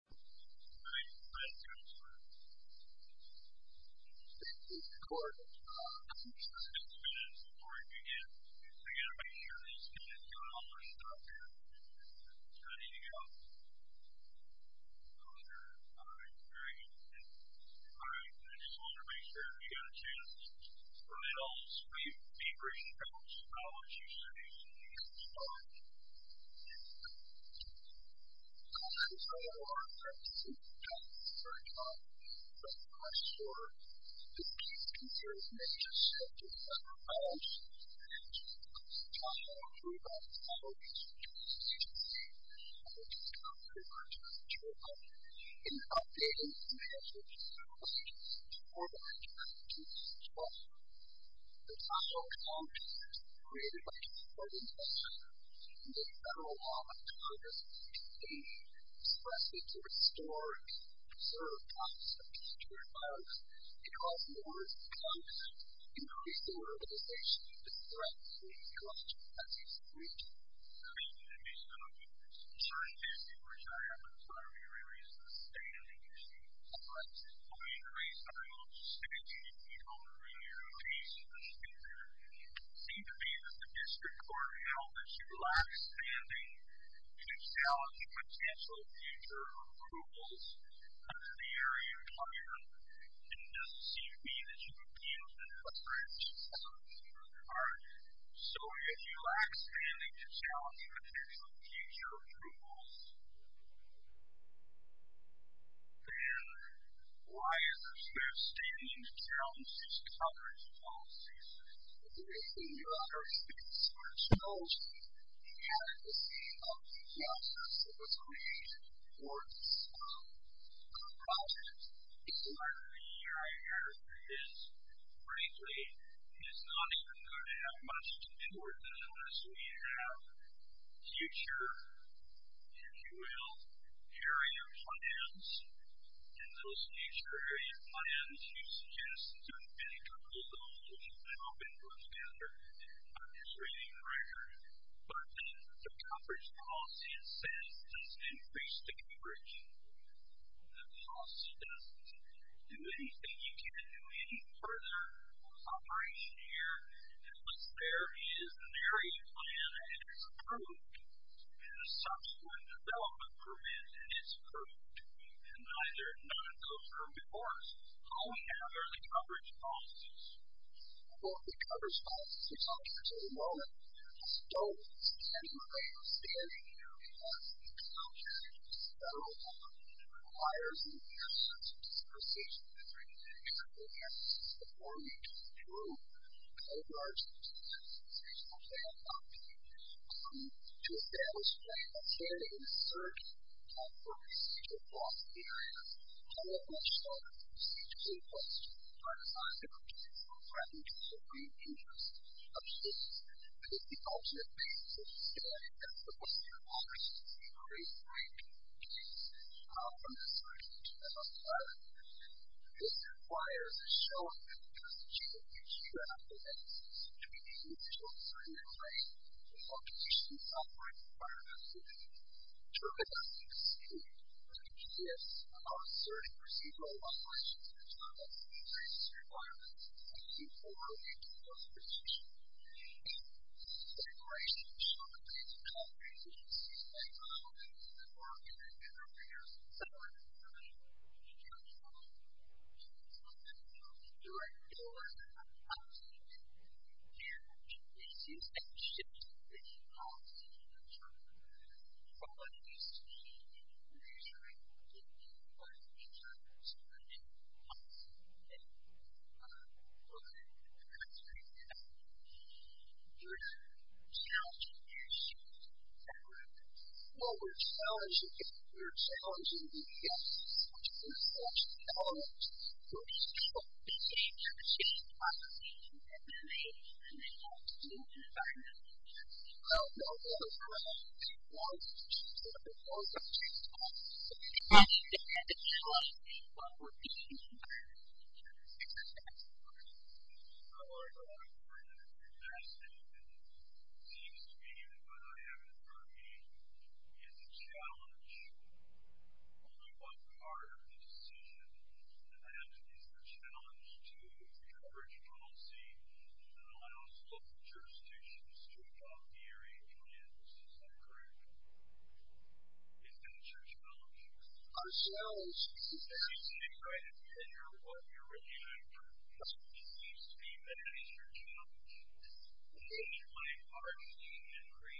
Alright, let's go for it. Thank you, Gordon. Just a few minutes before we begin. I've got to make sure this guy is doing all of his stuff here. How do you go? 100. Alright, very good. Alright, I just want to make sure if you've got a chance, or at all, be brief and tell us how much you save. The federal law requires the state specifically to restore and preserve copies of computer files. It also orders the government to increase their organization to threaten the ecological ethics of the region. The reason it makes no difference. For instance, if you retire by the time you re-release this data, you receive a fine. If you re-increase our logisticity, you don't re-release the data. It seems to me that the district court held that you lack standing to challenge potential future approvals under the area requirement. And it doesn't seem to me that you've appealed to the press for additional support. So, if you lack standing to challenge potential future approvals, then why is there standing to challenge this coverage policy? Is there anything you're unable to do? Is there a challenge to the adequacy of the process that was created for this project? What I hear is, frankly, it's not even going to have much to do with us unless we have future, if you will, area plans. And those future area plans, you suggest, do a mini-triple-zone, which is an open-book standard, not just reading the record. But then the coverage policy itself doesn't increase the coverage. The policy doesn't do anything. You can't do any further operation here. Unless there is an area plan that is approved, and a subsequent development permit is approved, and either none of those are in force, only then are the coverage policies. Well, the coverage policies, I'll get to in a moment, don't stand in the way of standing here because the content of this federal document requires an extensive discretionary and careful analysis before you can approve a large-scale institutional plan document to demonstrate that standing in a certain type of procedural policy area cannot be a strong procedural request. I'm not going to threaten the free interest of students, but if the ultimate goal is to stand at the bottom of the list, it's a great break. However, this requirement, this requires a strong and constitutional discretionary analysis between the initial design and writing, the location of the operating requirements, and the terminology of the student, which begins with our asserting procedural operations and terminology-based requirements before making those decisions. This declaration should not be used to contradict the institutional regulations of the board of governor chairs. Your record will work independently. It carries with you every shift in administration and policies 챙, what it used to be a 자기 centric, secure childcare that was rooted in policies and regulations, but that have now transformed. You're challenging your staff at work Well, we're challenging our staff at home with helpful equal opportunities for changes in policy and advisement and in different types of policies and regulations. It's the healthcare system where it all comes to grips. It's the healthcare system where it all comes to grips. It's the healthcare system where it all comes to grips. I'm going to go over it in a few minutes. And it seems to me that what I have in front of me is a challenge. Only one part of this system that I have to deal with is a challenge to encouraging policy that allows local jurisdictions to adopt the area plan Is that a challenge? A challenge yes! It seems to me it is. Is that a challenge? If the plan already increased coverage for sugary development projects 4 States currently are having some opportunities at risk of death before 05.04.2024 before 05.04.2024 we had 137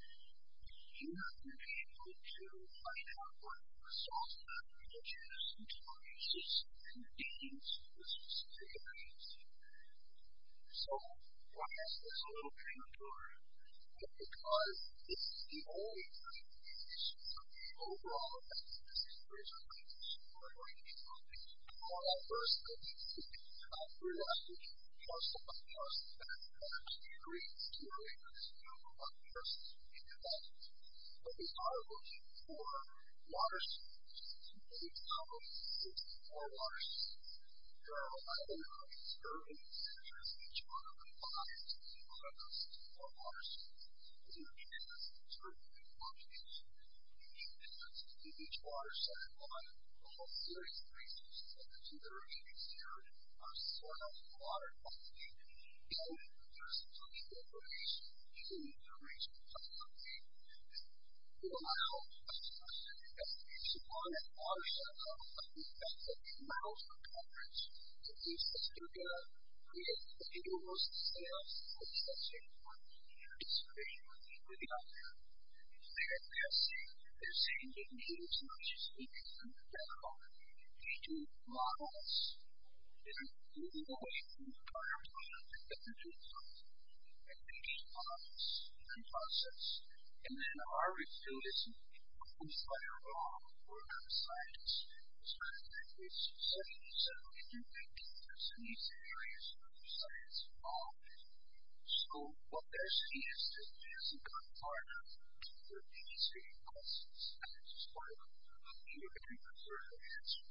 numbers of post and electoral doctors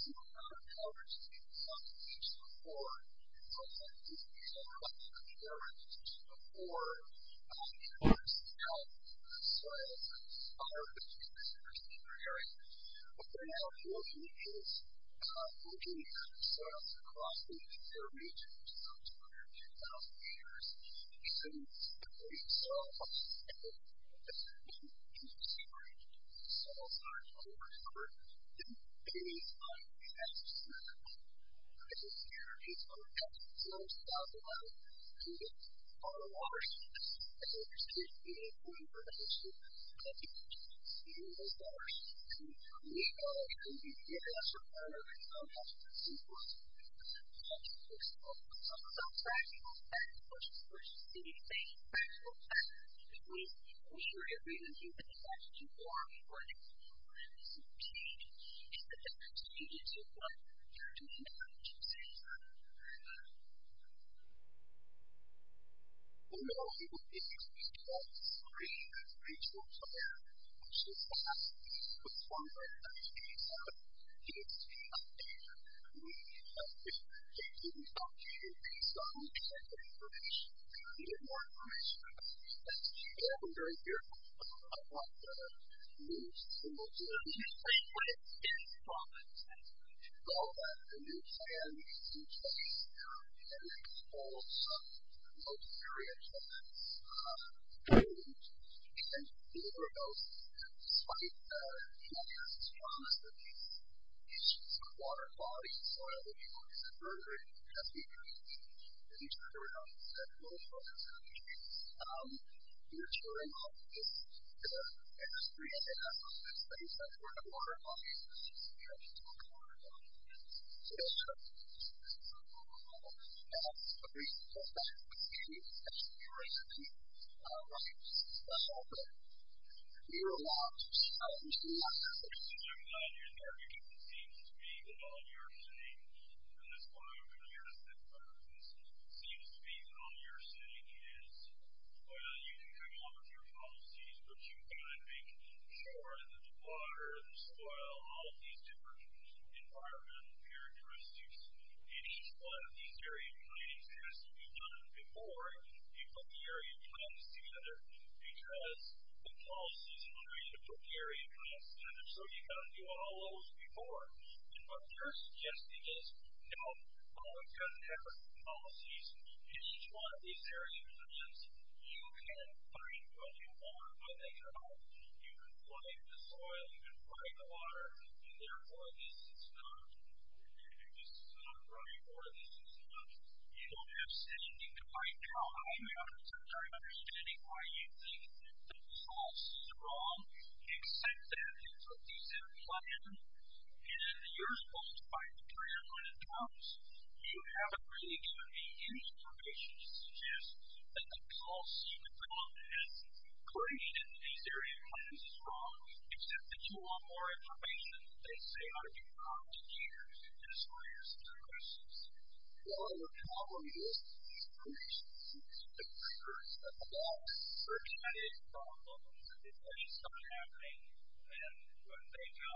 Having those doctors and scientists who have been censured believed that there is a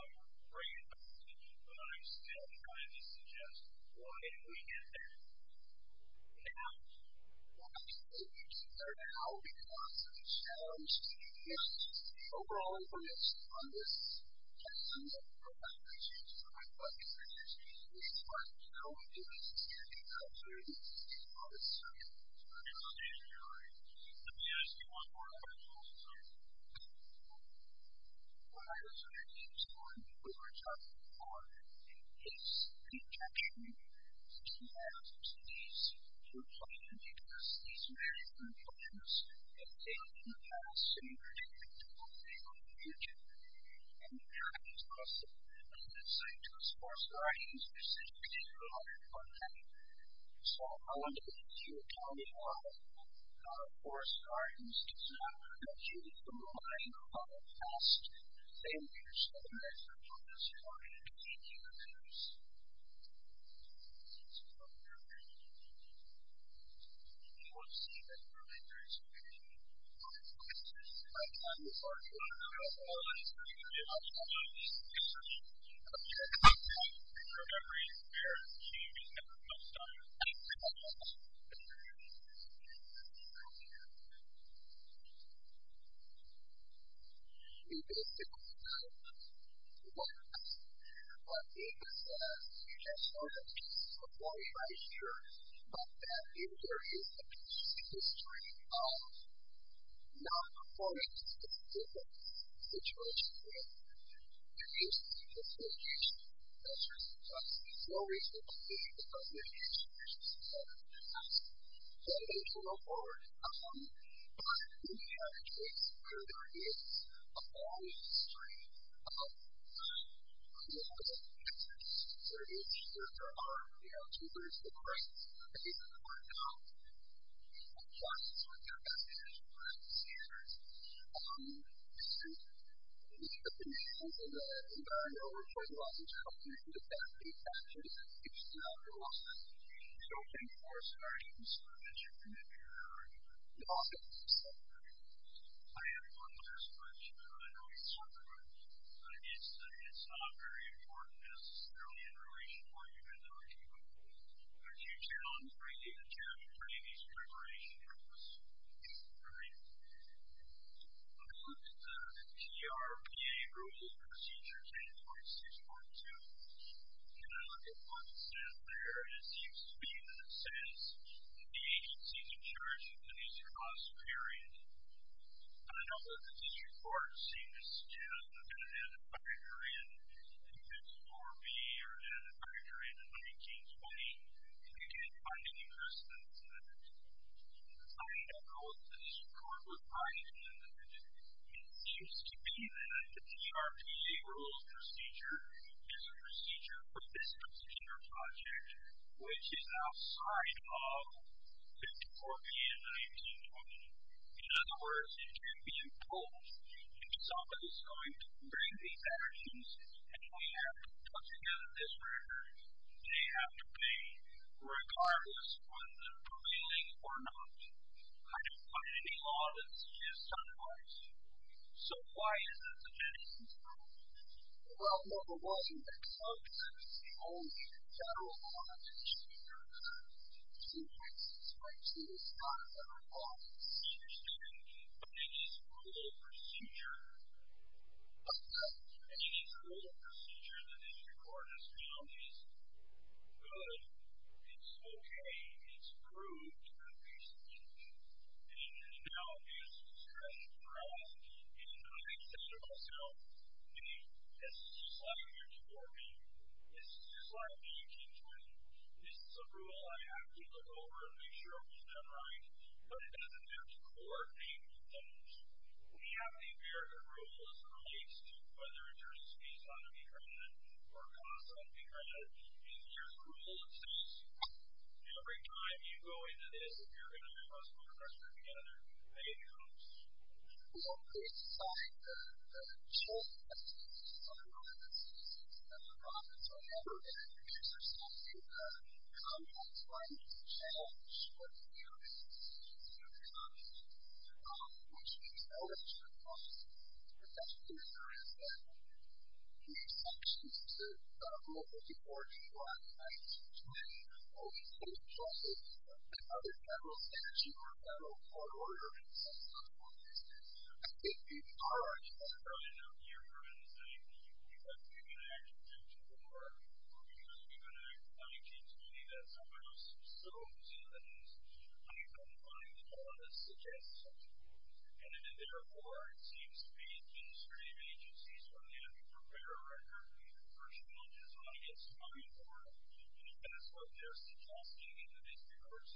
opportunity probably and it's a lot of people who don't have a opinion So, each agency has its own implementation plan for how it's going to live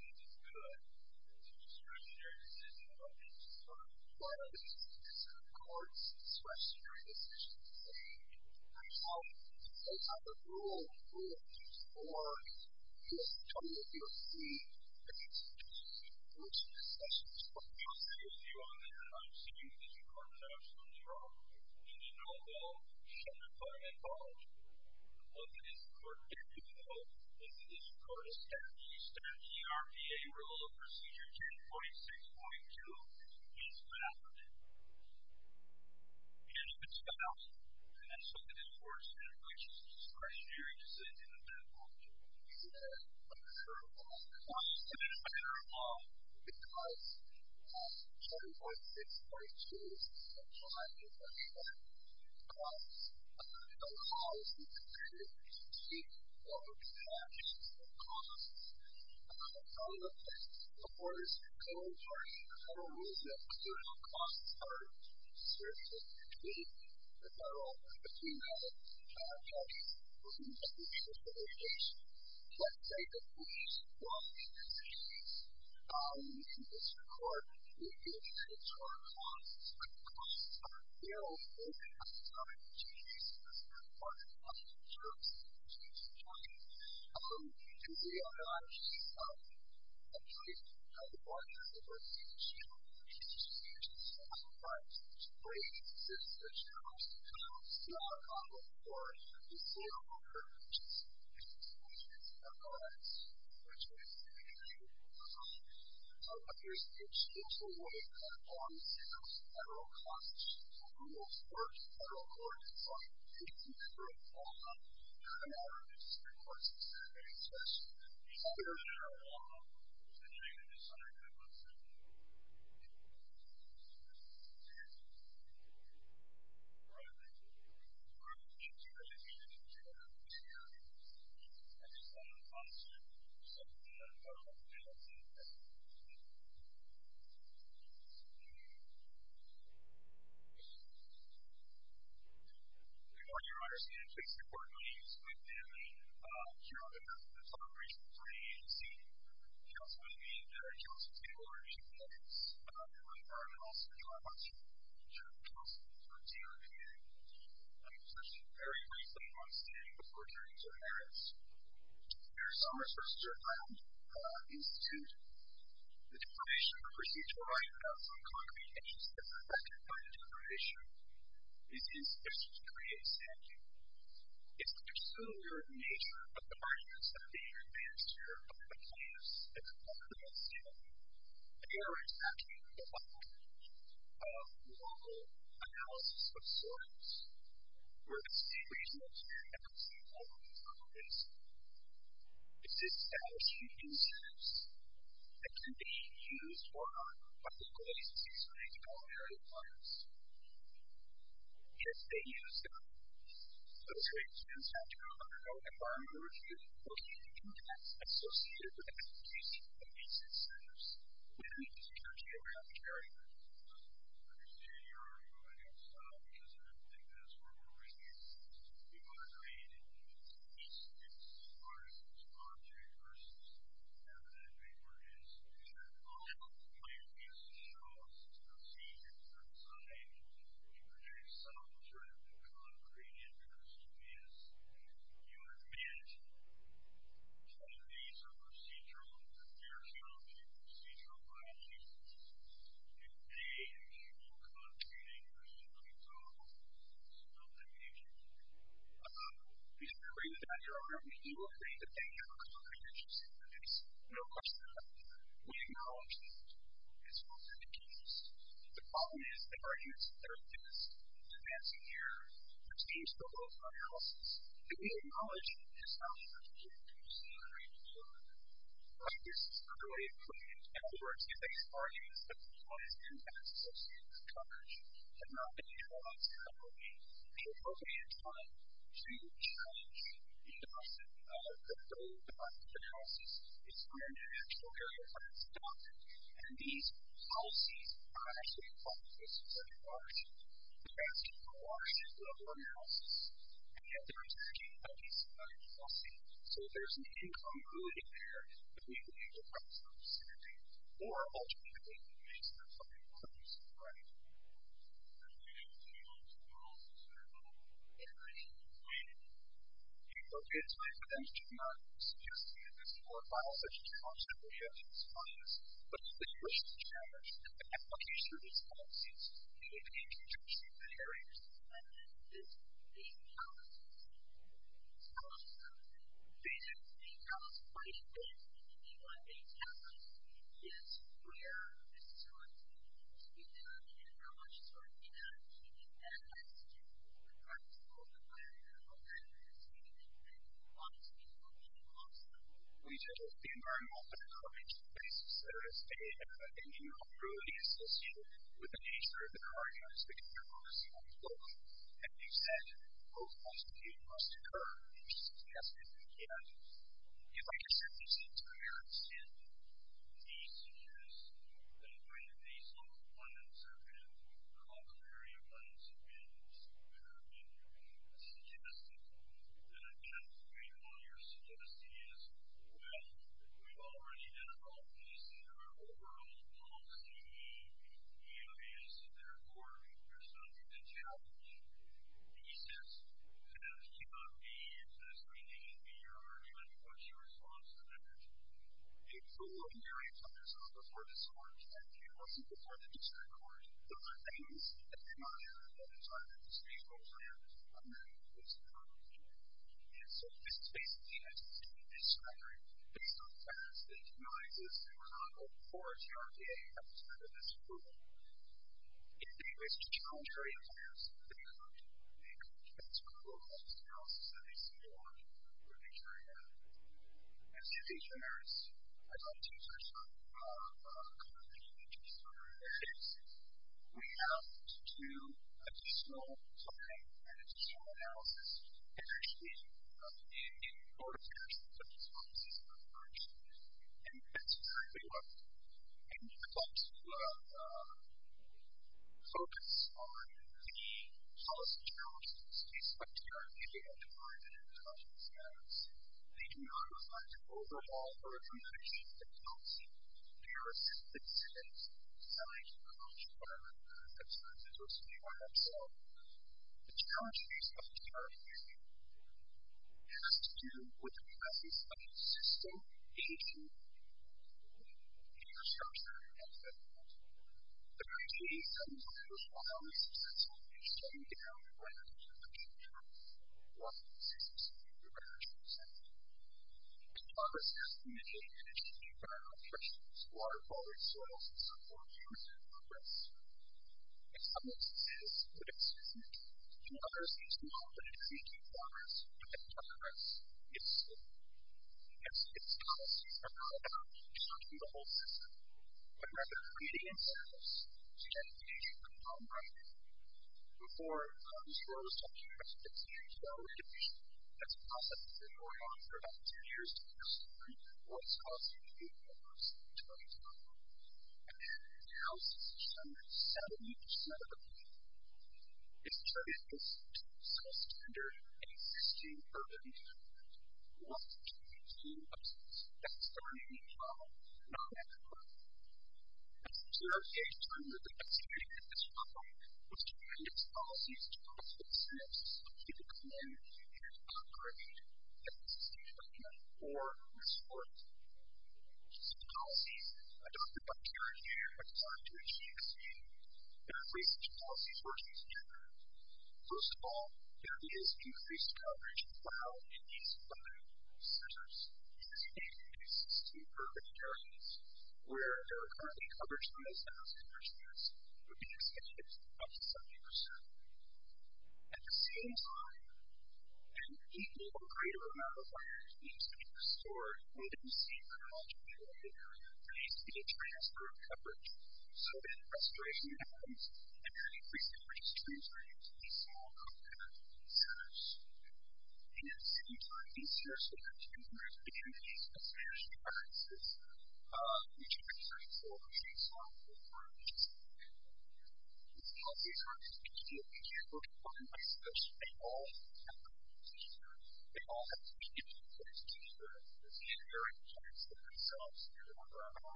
within its budget. The police that you use is charged to pay, and while the agencies do that, it's up to some of the municipalities to pay their fees. The TRPD is going to look at how local agencies are doing on an annual basis. TRPD has agreed to certify area units, and in four years, they can be decertified. The record demonstrates that the PMPs that are used as part of the area structure are not actually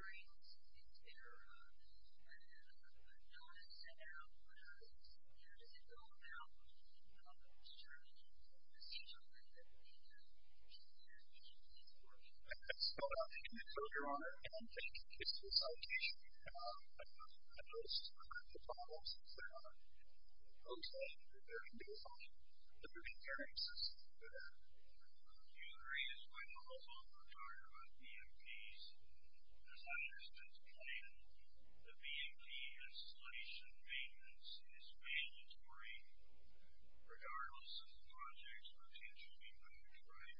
being installed in the city. There are payments of individual parcels, and there's an obligation to certify that the police and the agencies are doing what they need to do, which states... The answer to the question is, if they're required, the office, the agency, to make hearings, is there a notice about whether it's... You know, does it go about determining the procedural way that we have the police and the agencies working together? So, Your Honor, I can take his consultation. I know this is one of the problems that folks have that they're going to be required to do the hearing system for that. Do you agree as well, also, regarding the PMPs, does that exist as a plan? The PMP installation, maintenance is mandatory, regardless of the project's potential impact, right?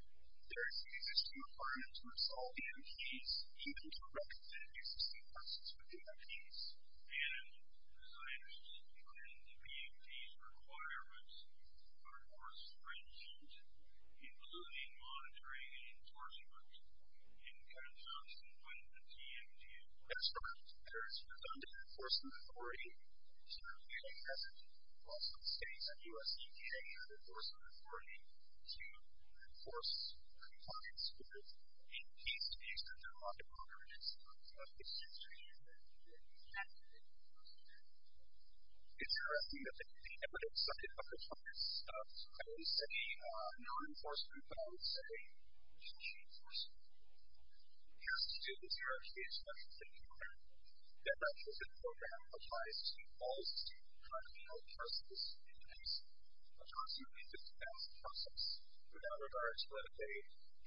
There's an existing requirement to install PMPs, even directed existing parcels with PMPs, and does that exist as a plan? The PMPs' requirements are, of course, stringent, including monitoring and enforcement. You can kind of jump to the point of the PMPs, right? That's right. There's redundant enforcement authority, which is what we have in Boston State. The U.S. EPA had enforcement authority to enforce compliance with the PMPs, but there are a lot of other instruments that exist to do that, that you can't do that in Boston State. Is there anything that the evidence of compliance, at least any non-enforcement, that you thought would say you should enforce? It has to do with the U.S. EPA's money-saving program. That money-saving program applies to all state-controlled parcels and PMPs. It applies to PMPs as a process. Without regard to whether they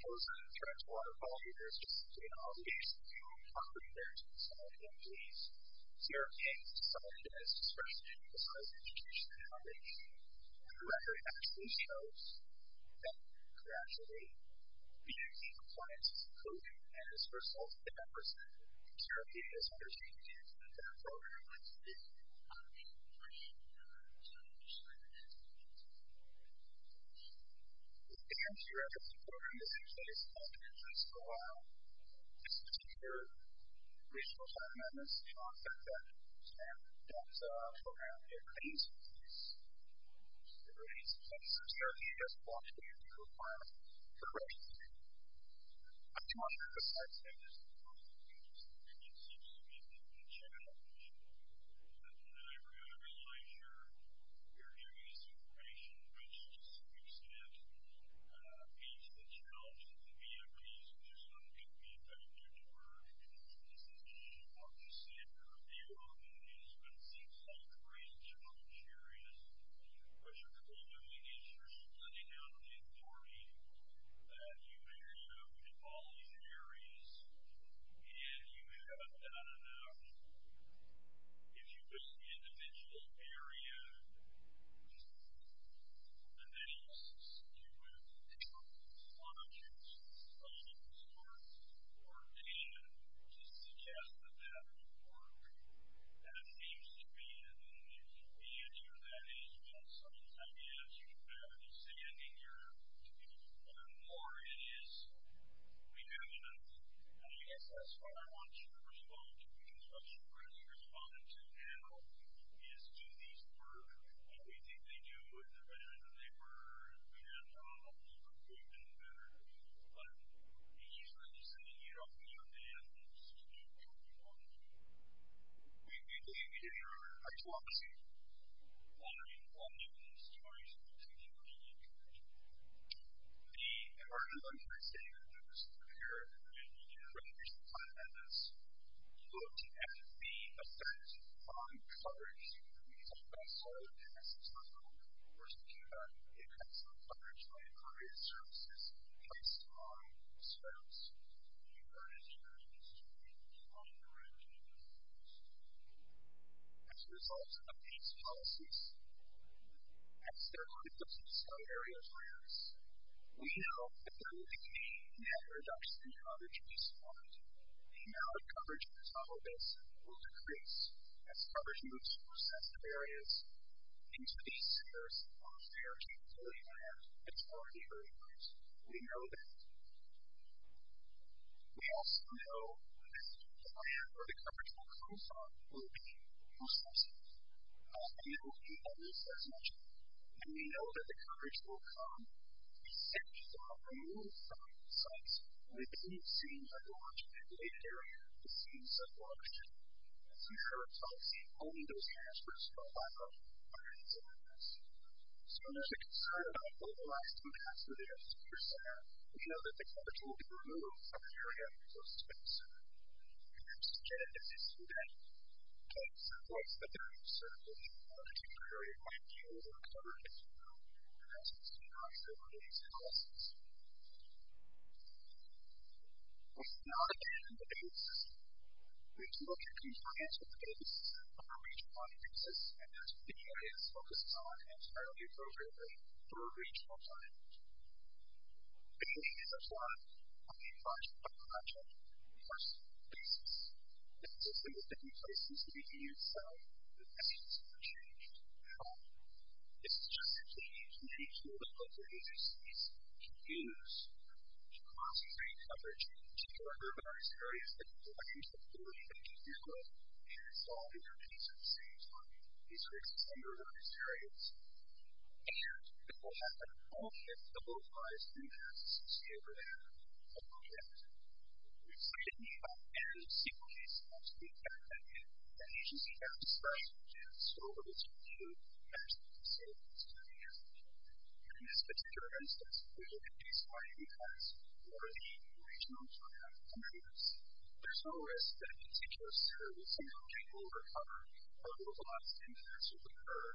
pose a threat to water quality, there's just an obligation to offer PMPs. The U.S. EPA has decided, as discretionary, to sign a petition to the foundation, where the record actually shows that there could actually be PMP compliances included, and as a result, the members of the U.S. EPA is undertaking to implement that program, which would be an obligation to sign a petition to the foundation. The PMP records program has been in place in the United States for a while. It's been here for a reasonable time, and it's been on for a decade. And that program, it remains in place. It remains in place, and so the U.S. EPA doesn't want to be a requirement for corrections to be made. I do want to emphasize, though, there's a lot of confusion, and it seems to me that the challenge of the library oversight, your use of information, which, to some extent, is the challenge of the VMPs, which is not going to be affected by the fact that we're in this business. As you said, there are a few of them, but it seems like a real challenge area. What you're probably doing is you're splitting out the authority that you may have in all these areas, and you haven't done enough. If you build the individual area, and then you split it out, it's a lot of things. It's a lot of work for data to suggest that that would work. That seems to be the answer. That is what some of these ideas you have. You're saying, I think, the more it is, we have enough. And I guess that's what I want you to respond to, because what you're going to respond to now is do these work? We think they do, and they're better than they were, and they were good and better, but these are just something you don't know that happens to people who want to do it. Do you think in your hypothesis, what are you finding in these stories and what do you think we need to change? The emergency understanding of this is that here, and you can read through some content that's looked at, there should be a sense of common coverage. The reason why solar panels is not the one that we're looking for is to combat the effects of coverage by incorporating services in place to monitor those services. The emergency understanding is to make people more interactive with those services. As a result of these policies, as there are outcomes in some areas for us, we know that there will be a net reduction in coverage response. The amount of coverage that's on our base will decrease as coverage moves from sensitive areas into these centers of fair capability where it's already very good. We know that. We also know that the area where the coverage will come from will be more sensitive. We also know, as Lisa has mentioned, when we know that the coverage will come, these centers are removed from sites where they didn't seem to have a large populated area to see some coverage. As you heard, I've seen only those areas for a small amount of time under these circumstances. So there's a concern about localized impacts within a secure center. We know that the coverage will be removed from the area closest to the center. We have suggested that this event takes place at the center where the area might be over-covered as well, which is not an issue in the data system. We do look at compliance with the data system for regional audiences, and that's what the EIS focuses on entirely and appropriately for a regional climate. The data is applied on a project-by-project, on a person-by-person basis. This is a significant place in the city itself that needs to be changed. It's just that we need to make sure that local agencies can use cross-street coverage in particular urbanized areas that provide the capability they need to do it and solve the communities at the same time. These are extended urbanized areas, and it will happen only if the localized impact is sustained within a project. We've said in the past that there is a single case that needs to be evaluated, and agencies have to decide if they can store this information In this particular instance, we look at the EIS for the regional climate communities. There's no risk that a particular city or a single project will recover while localized impacts occur.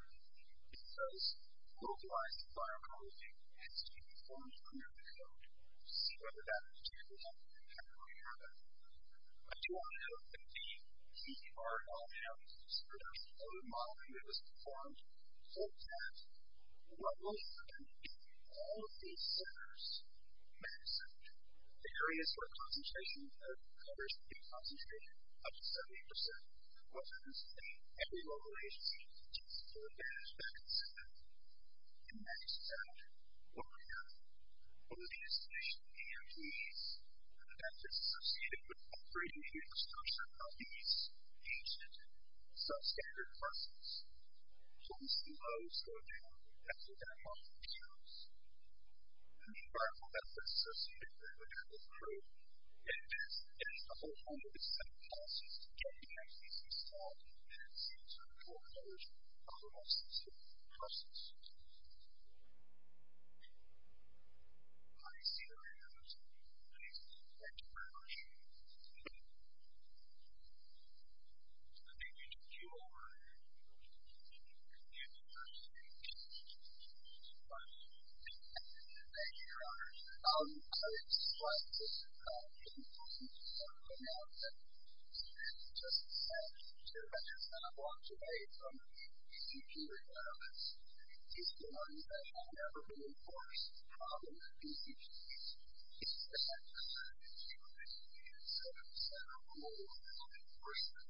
It's just localized bioecology needs to be performed under the hood to see whether that particular impact really happened. I do want to note that the EPR algorithms and the modeling that was performed looked at what will happen if all of these centers maxed out. The areas where concentration of coverage would be concentrated, up to 70%, what happens if every local agency takes full advantage of that incentive? It maxes out what we have. What is the installation of EMPs? The benefits associated with operating The exclusion of these ancient, substandard buses so we see those go down after their health concerns. The environmental benefits associated with the travel crew and this is a whole other set of policies to get the agencies to stop and see to the full coverage of the losses and costs. I see that there are some people who are raising their hands. Thank you very much. I think we took you over. You can go to the next slide. Thank you, John. I would like to thank the panelists and just to mention that I'm going to walk away from the decision-making on this. This is one that I have never been enforced in any of the decisions. This is not a decision. This is a set of rules of enforcement. This is the first year. I also would like to remind you that there is no EMPs coverage on the city's improvements. These are some of the restrictions on the city's improvements.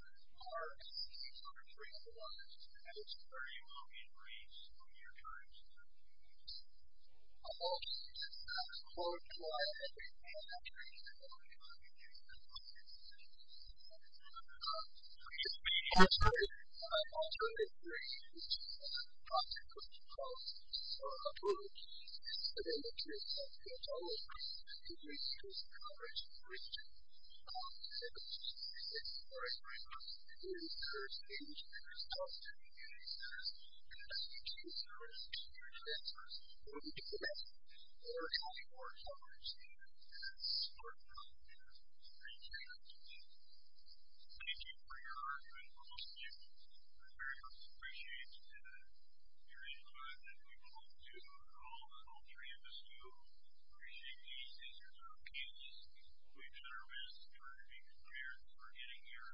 Our EMPs are three of the ones and it's where you will be briefed when your time is up. I'm also going to ask Claude to go ahead and give me an update on the EMPs coverage on the city's improvements. I'm also going to brief you on the consequences of this approach and the nature of the dollars that you receive as coverage for each of the EMPs. It's very important to do your exchange with your staff and your EMPs and ask each of your services and your advisors who you can ask for more coverage and support for EMPs and for each of your EMPs. Thank you for your argument. We're listening. We very much appreciate you and we really hope that you will do all that all three of us do. We appreciate you. These are our kids. We've done our best in order to be prepared for getting here.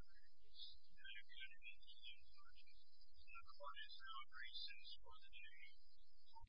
It's been a good adventure so far. It's been a quiet, sound recess for the day.